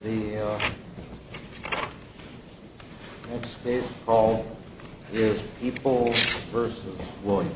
The next case to call is Peoples v. Williams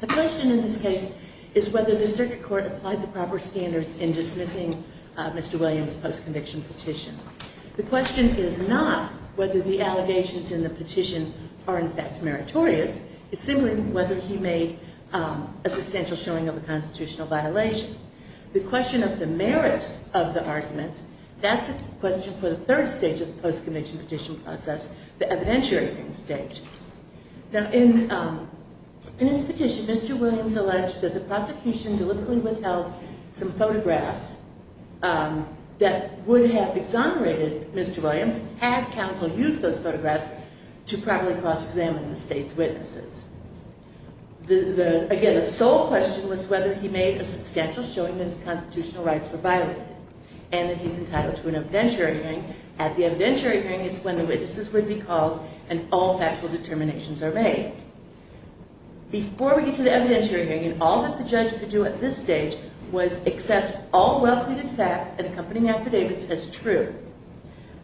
The question in this case is whether the circuit court applied the proper standards in dismissing Mr. Williams' post-conviction petition. The question is not whether the allegations in the petition are in fact meritorious, it's simply whether he made a substantial showing of a constitutional violation. The question of the merits of the arguments, that's a question for the third stage of the post-conviction petition process, the evidentiating stage. Now in his petition, Mr. Williams alleged that the prosecution deliberately withheld some photographs that would have exonerated Mr. Williams had counsel used those photographs to properly cross-examine the state's witnesses. Again, the sole question was whether he made a substantial showing that his constitutional rights were violated, and that he's entitled to an evidentiary hearing. At the evidentiary hearing is when the witnesses would be called and all factual determinations are made. Before we get to the evidentiary hearing, all that the judge could do at this stage was accept all well-concluded facts and accompanying affidavits as true.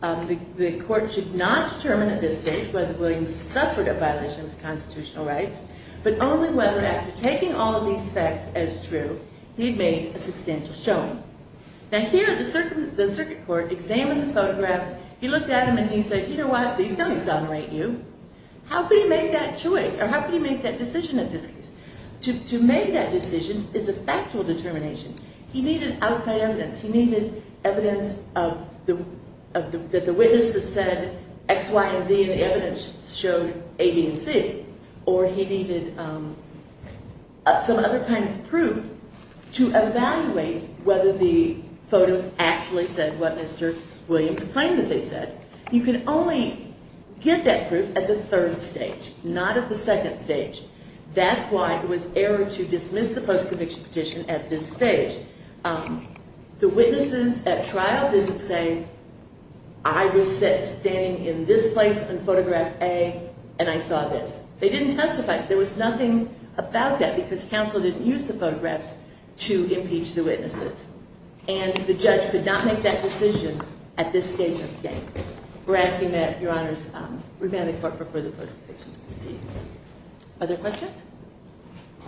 The court should not determine at this stage whether Williams suffered a violation of his constitutional rights, but only whether after taking all of these facts as true, he'd made a substantial showing. Now here, the circuit court examined the photographs, he looked at them and he said, you know what, these don't exonerate you. How could he make that choice, or how could he make that decision in this case? To make that decision is a factual determination. He needed outside evidence. He needed evidence that the witnesses said X, Y, and Z, and the evidence showed A, B, and C. Or he needed some other kind of proof to evaluate whether the photos actually said what Mr. Williams claimed that they said. You can only get that proof at the third stage, not at the second stage. That's why it was error to dismiss the post-conviction petition at this stage. The witnesses at trial didn't say, I was standing in this place in photograph A and I saw this. They didn't testify. There was nothing about that because counsel didn't use the photographs to impeach the witnesses. And the judge could not make that decision at this stage of the case. We're asking that your honors revand the court for further post-conviction. Other questions?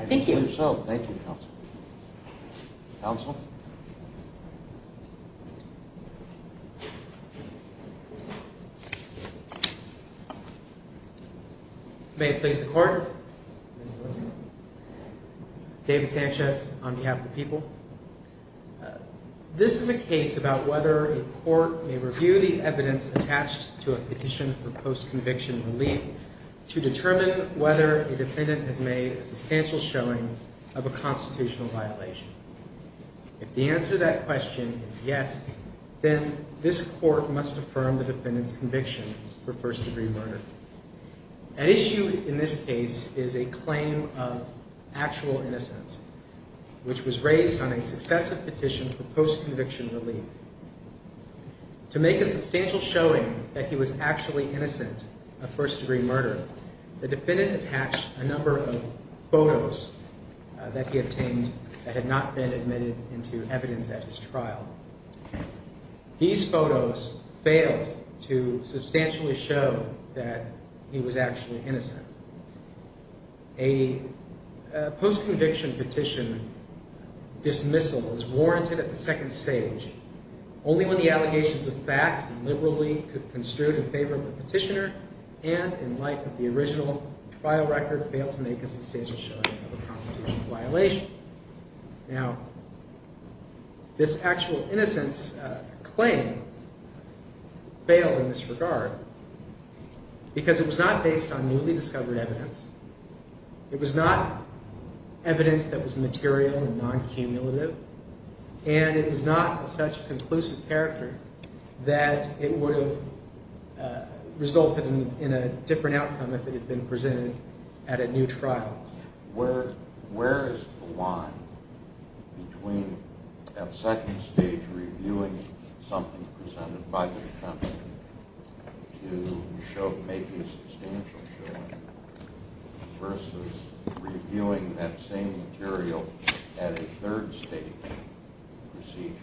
Thank you. I think so. Thank you, counsel. Counsel? May it please the court. David Sanchez on behalf of the people. This is a case about whether a court may review the evidence attached to a petition for post-conviction relief to determine whether a defendant has made a substantial showing of a constitutional violation. If the answer to that question is yes, then this court must affirm the defendant's conviction for first degree murder. An issue in this case is a claim of actual innocence, which was raised on a successive petition for post-conviction relief. To make a substantial showing that he was actually innocent of first degree murder, the defendant attached a number of photos that he obtained that had not been admitted into evidence at his trial. These photos failed to substantially show that he was actually innocent. A post-conviction petition dismissal was warranted at the second stage, only when the allegations of fact liberally could construe in favor of the petitioner and in light of the original trial record failed to make a substantial showing of a constitutional violation. Now, this actual innocence claim failed in this regard because it was not based on newly discovered evidence. It was not evidence that was material and non-cumulative, and it was not of such conclusive character that it would have resulted in a different outcome if it had been presented at a new trial. Now, where is the line between that second stage reviewing something presented by the defendant to make a substantial showing versus reviewing that same material at a third stage proceeding,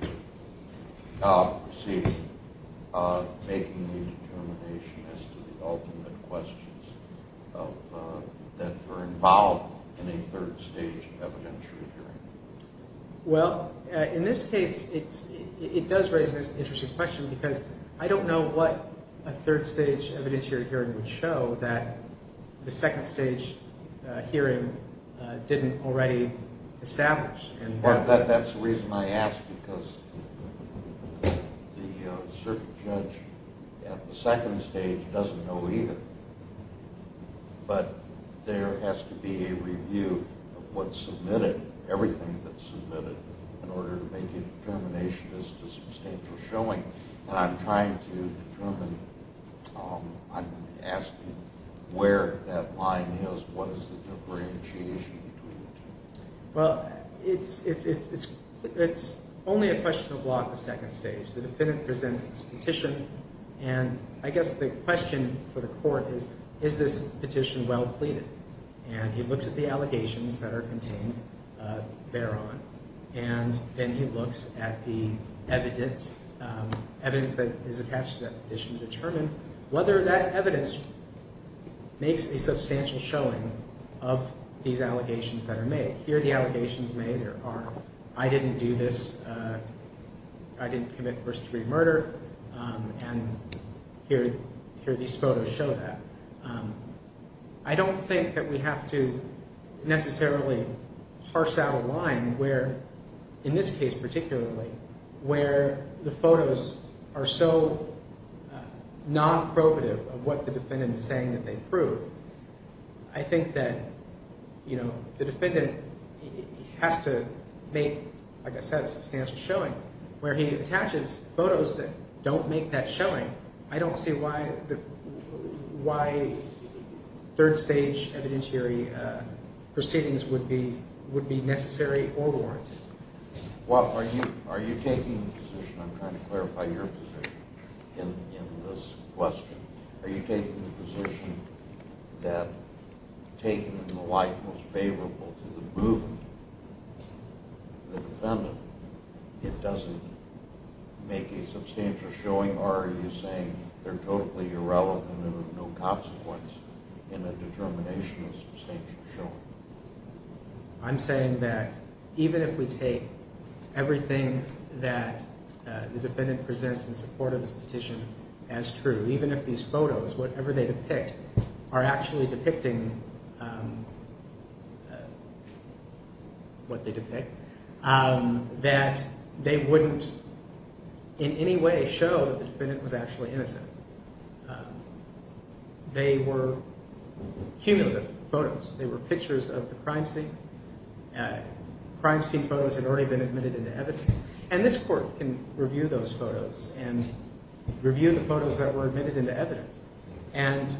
making the determination as to the ultimate questions that are involved in a third stage evidentiary hearing? Well, in this case, it does raise an interesting question because I don't know what a third stage evidentiary hearing would show that the second stage hearing didn't already establish. And that's the reason I ask because the circuit judge at the second stage doesn't know either. But there has to be a review of what's submitted, everything that's submitted, in order to make a determination as to substantial showing. And I'm trying to determine, I'm asking where that line is, what is the differentiation between the two. Well, it's only a question of law at the second stage. The defendant presents this petition, and I guess the question for the court is, is this petition well pleaded? And he looks at the allegations that are contained thereon, and then he looks at the evidence, evidence that is attached to that petition to determine whether that evidence makes a Here the allegations made are, I didn't do this, I didn't commit first degree murder, and here these photos show that. I don't think that we have to necessarily parse out a line where, in this case particularly, where the photos are so non-probative of what the defendant is saying that they prove. I think that, you know, the defendant has to make, like I said, substantial showing. Where he attaches photos that don't make that showing, I don't see why third stage evidentiary proceedings would be necessary or warranted. Well, are you taking the position, I'm trying to clarify your position in this question, are you taking the position that taking the most favorable to the movement, the defendant, it doesn't make a substantial showing, or are you saying they're totally irrelevant and of no consequence in a determination of substantial showing? I'm saying that even if we take everything that the defendant presents in support of this petition as true, even if these photos, whatever they depict, are actually depicting what they depict, that they wouldn't in any way show that the defendant was actually innocent. They were cumulative photos. They were pictures of the crime scene. Crime scene photos had already been admitted into evidence. And this court can review those photos and review the photos that were admitted into evidence. And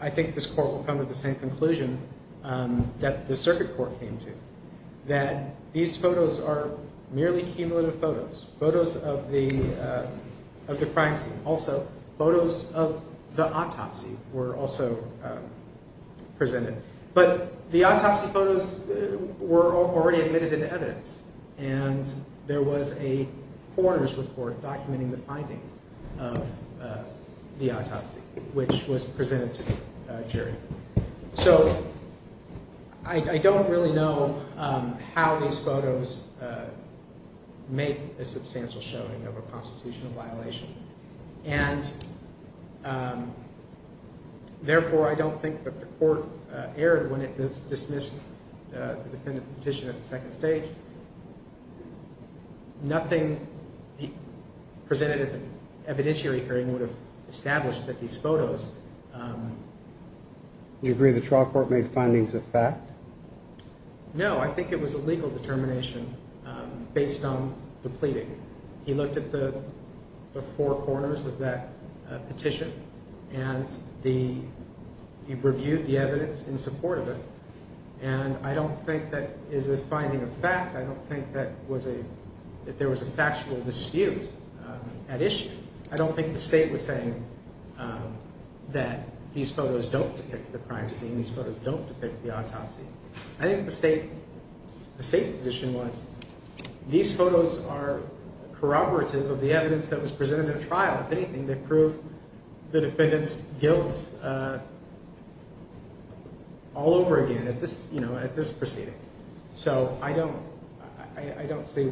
I think this court will come to the same conclusion that the circuit court came to, that these photos are merely cumulative photos, photos of the crime scene. Also, photos of the autopsy were also presented. But the autopsy photos were already admitted into evidence. And there was a coroner's report documenting the findings of the autopsy, which was presented to the jury. So I don't really know how these photos make a substantial showing of a constitutional violation. And, therefore, I don't think that the court erred when it dismissed the defendant's petition at the second stage. Nothing presented at the evidentiary hearing would have established that these photos. Do you agree the trial court made findings of fact? No, I think it was a legal determination based on the pleading. He looked at the four corners of that petition, and he reviewed the evidence in support of it. And I don't think that is a finding of fact. I don't think that there was a factual dispute at issue. I don't think the state was saying that these photos don't depict the crime scene, these photos don't depict the autopsy. I think the state's position was these photos are corroborative of the evidence that was presented at a trial. If anything, they prove the defendant's guilt all over again at this proceeding. So I don't see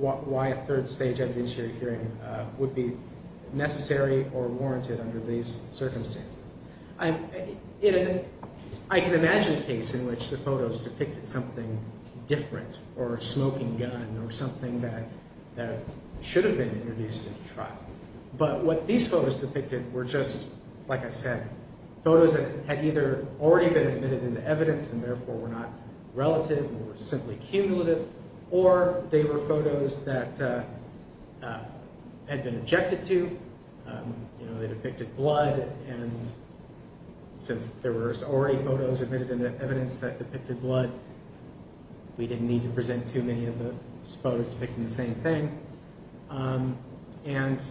why a third stage evidentiary hearing would be necessary or warranted under these circumstances. I can imagine a case in which the photos depicted something different or a smoking gun or something that should have been introduced at a trial. But what these photos depicted were just, like I said, photos that had either already been admitted into evidence and, therefore, were not relative or simply cumulative, or they were photos that had been objected to, you know, they depicted blood. And since there were already photos admitted into evidence that depicted blood, we didn't need to present too many of the photos depicting the same thing. And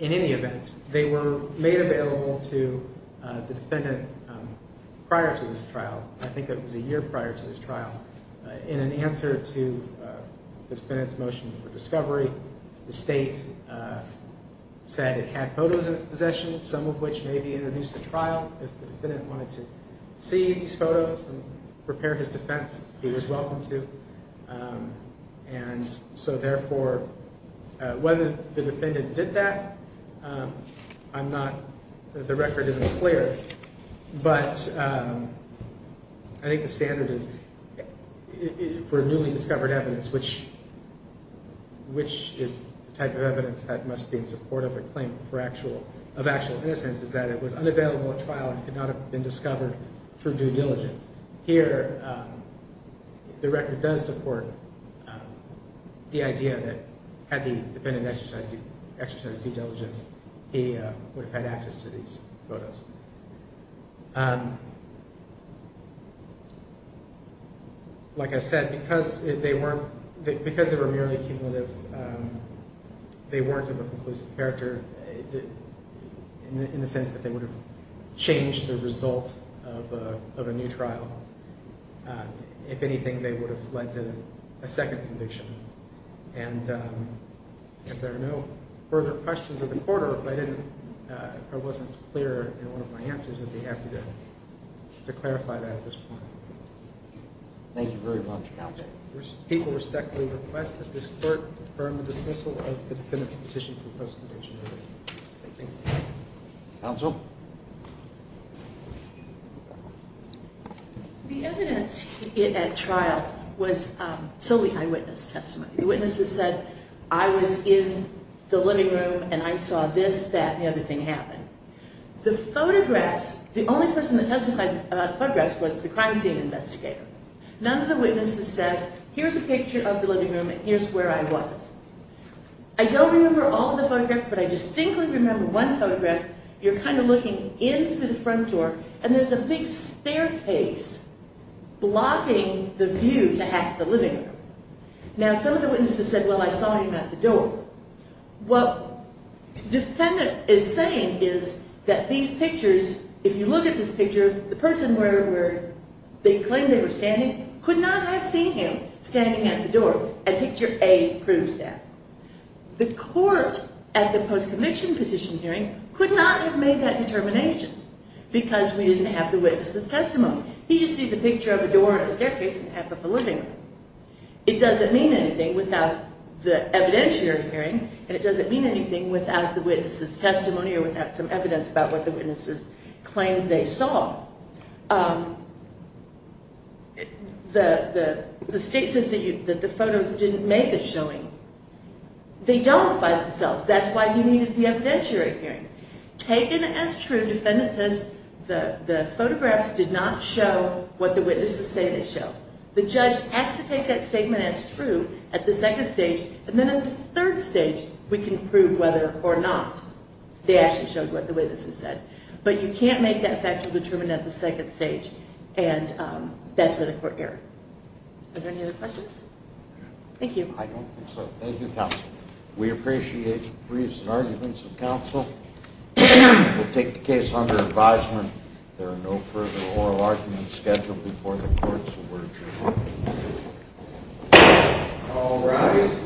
in any event, they were made available to the defendant prior to this trial. I think it was a year prior to this trial. In an answer to the defendant's motion for discovery, the state said it had photos in its possession, some of which may be introduced at trial. If the defendant wanted to see these photos and prepare his defense, he was welcome to. And so, therefore, whether the defendant did that, I'm not – the record isn't clear. But I think the standard is for newly discovered evidence, which is the type of evidence that must be in support of a claim of actual innocence, is that it was unavailable at trial and could not have been discovered for due diligence. Here, the record does support the idea that had the defendant exercised due diligence, he would have had access to these photos. Like I said, because they were merely cumulative, they weren't of a conclusive character in the sense that they would have changed the result of a new trial. If anything, they would have led to a second conviction. And if there are no further questions of the court or if I didn't – if I wasn't clear in one of my answers, I'd be happy to clarify that at this point. Thank you very much, counsel. People respectfully request that this court confirm the dismissal of the defendant's petition for post-conviction. Thank you. Counsel? The evidence at trial was solely eyewitness testimony. The witnesses said, I was in the living room and I saw this, that, and the other thing happened. The photographs – the only person that testified about the photographs was the crime scene investigator. None of the witnesses said, here's a picture of the living room and here's where I was. I don't remember all of the photographs, but I distinctly remember one photograph. You're kind of looking in through the front door and there's a big staircase blocking the view to half the living room. Now, some of the witnesses said, well, I saw him at the door. What the defendant is saying is that these pictures – if you look at this picture, the person where they claimed they were standing could not have seen him standing at the door. And picture A proves that. The court at the post-conviction petition hearing could not have made that determination because we didn't have the witnesses' testimony. He just sees a picture of a door and a staircase and half of a living room. It doesn't mean anything without the evidentiary hearing and it doesn't mean anything without the witnesses' testimony or without some evidence about what the witnesses claimed they saw. The state says that the photos didn't make a showing. They don't by themselves. That's why you needed the evidentiary hearing. Taken as true, the defendant says the photographs did not show what the witnesses say they show. The judge has to take that statement as true at the second stage and then at the third stage we can prove whether or not they actually showed what the witnesses said. But you can't make that factual determination at the second stage and that's where the court erred. Are there any other questions? Thank you. I don't think so. Thank you, counsel. We appreciate the briefs and arguments of counsel. We'll take the case under advisement. There are no further oral arguments scheduled before the court so we're adjourned. All rise.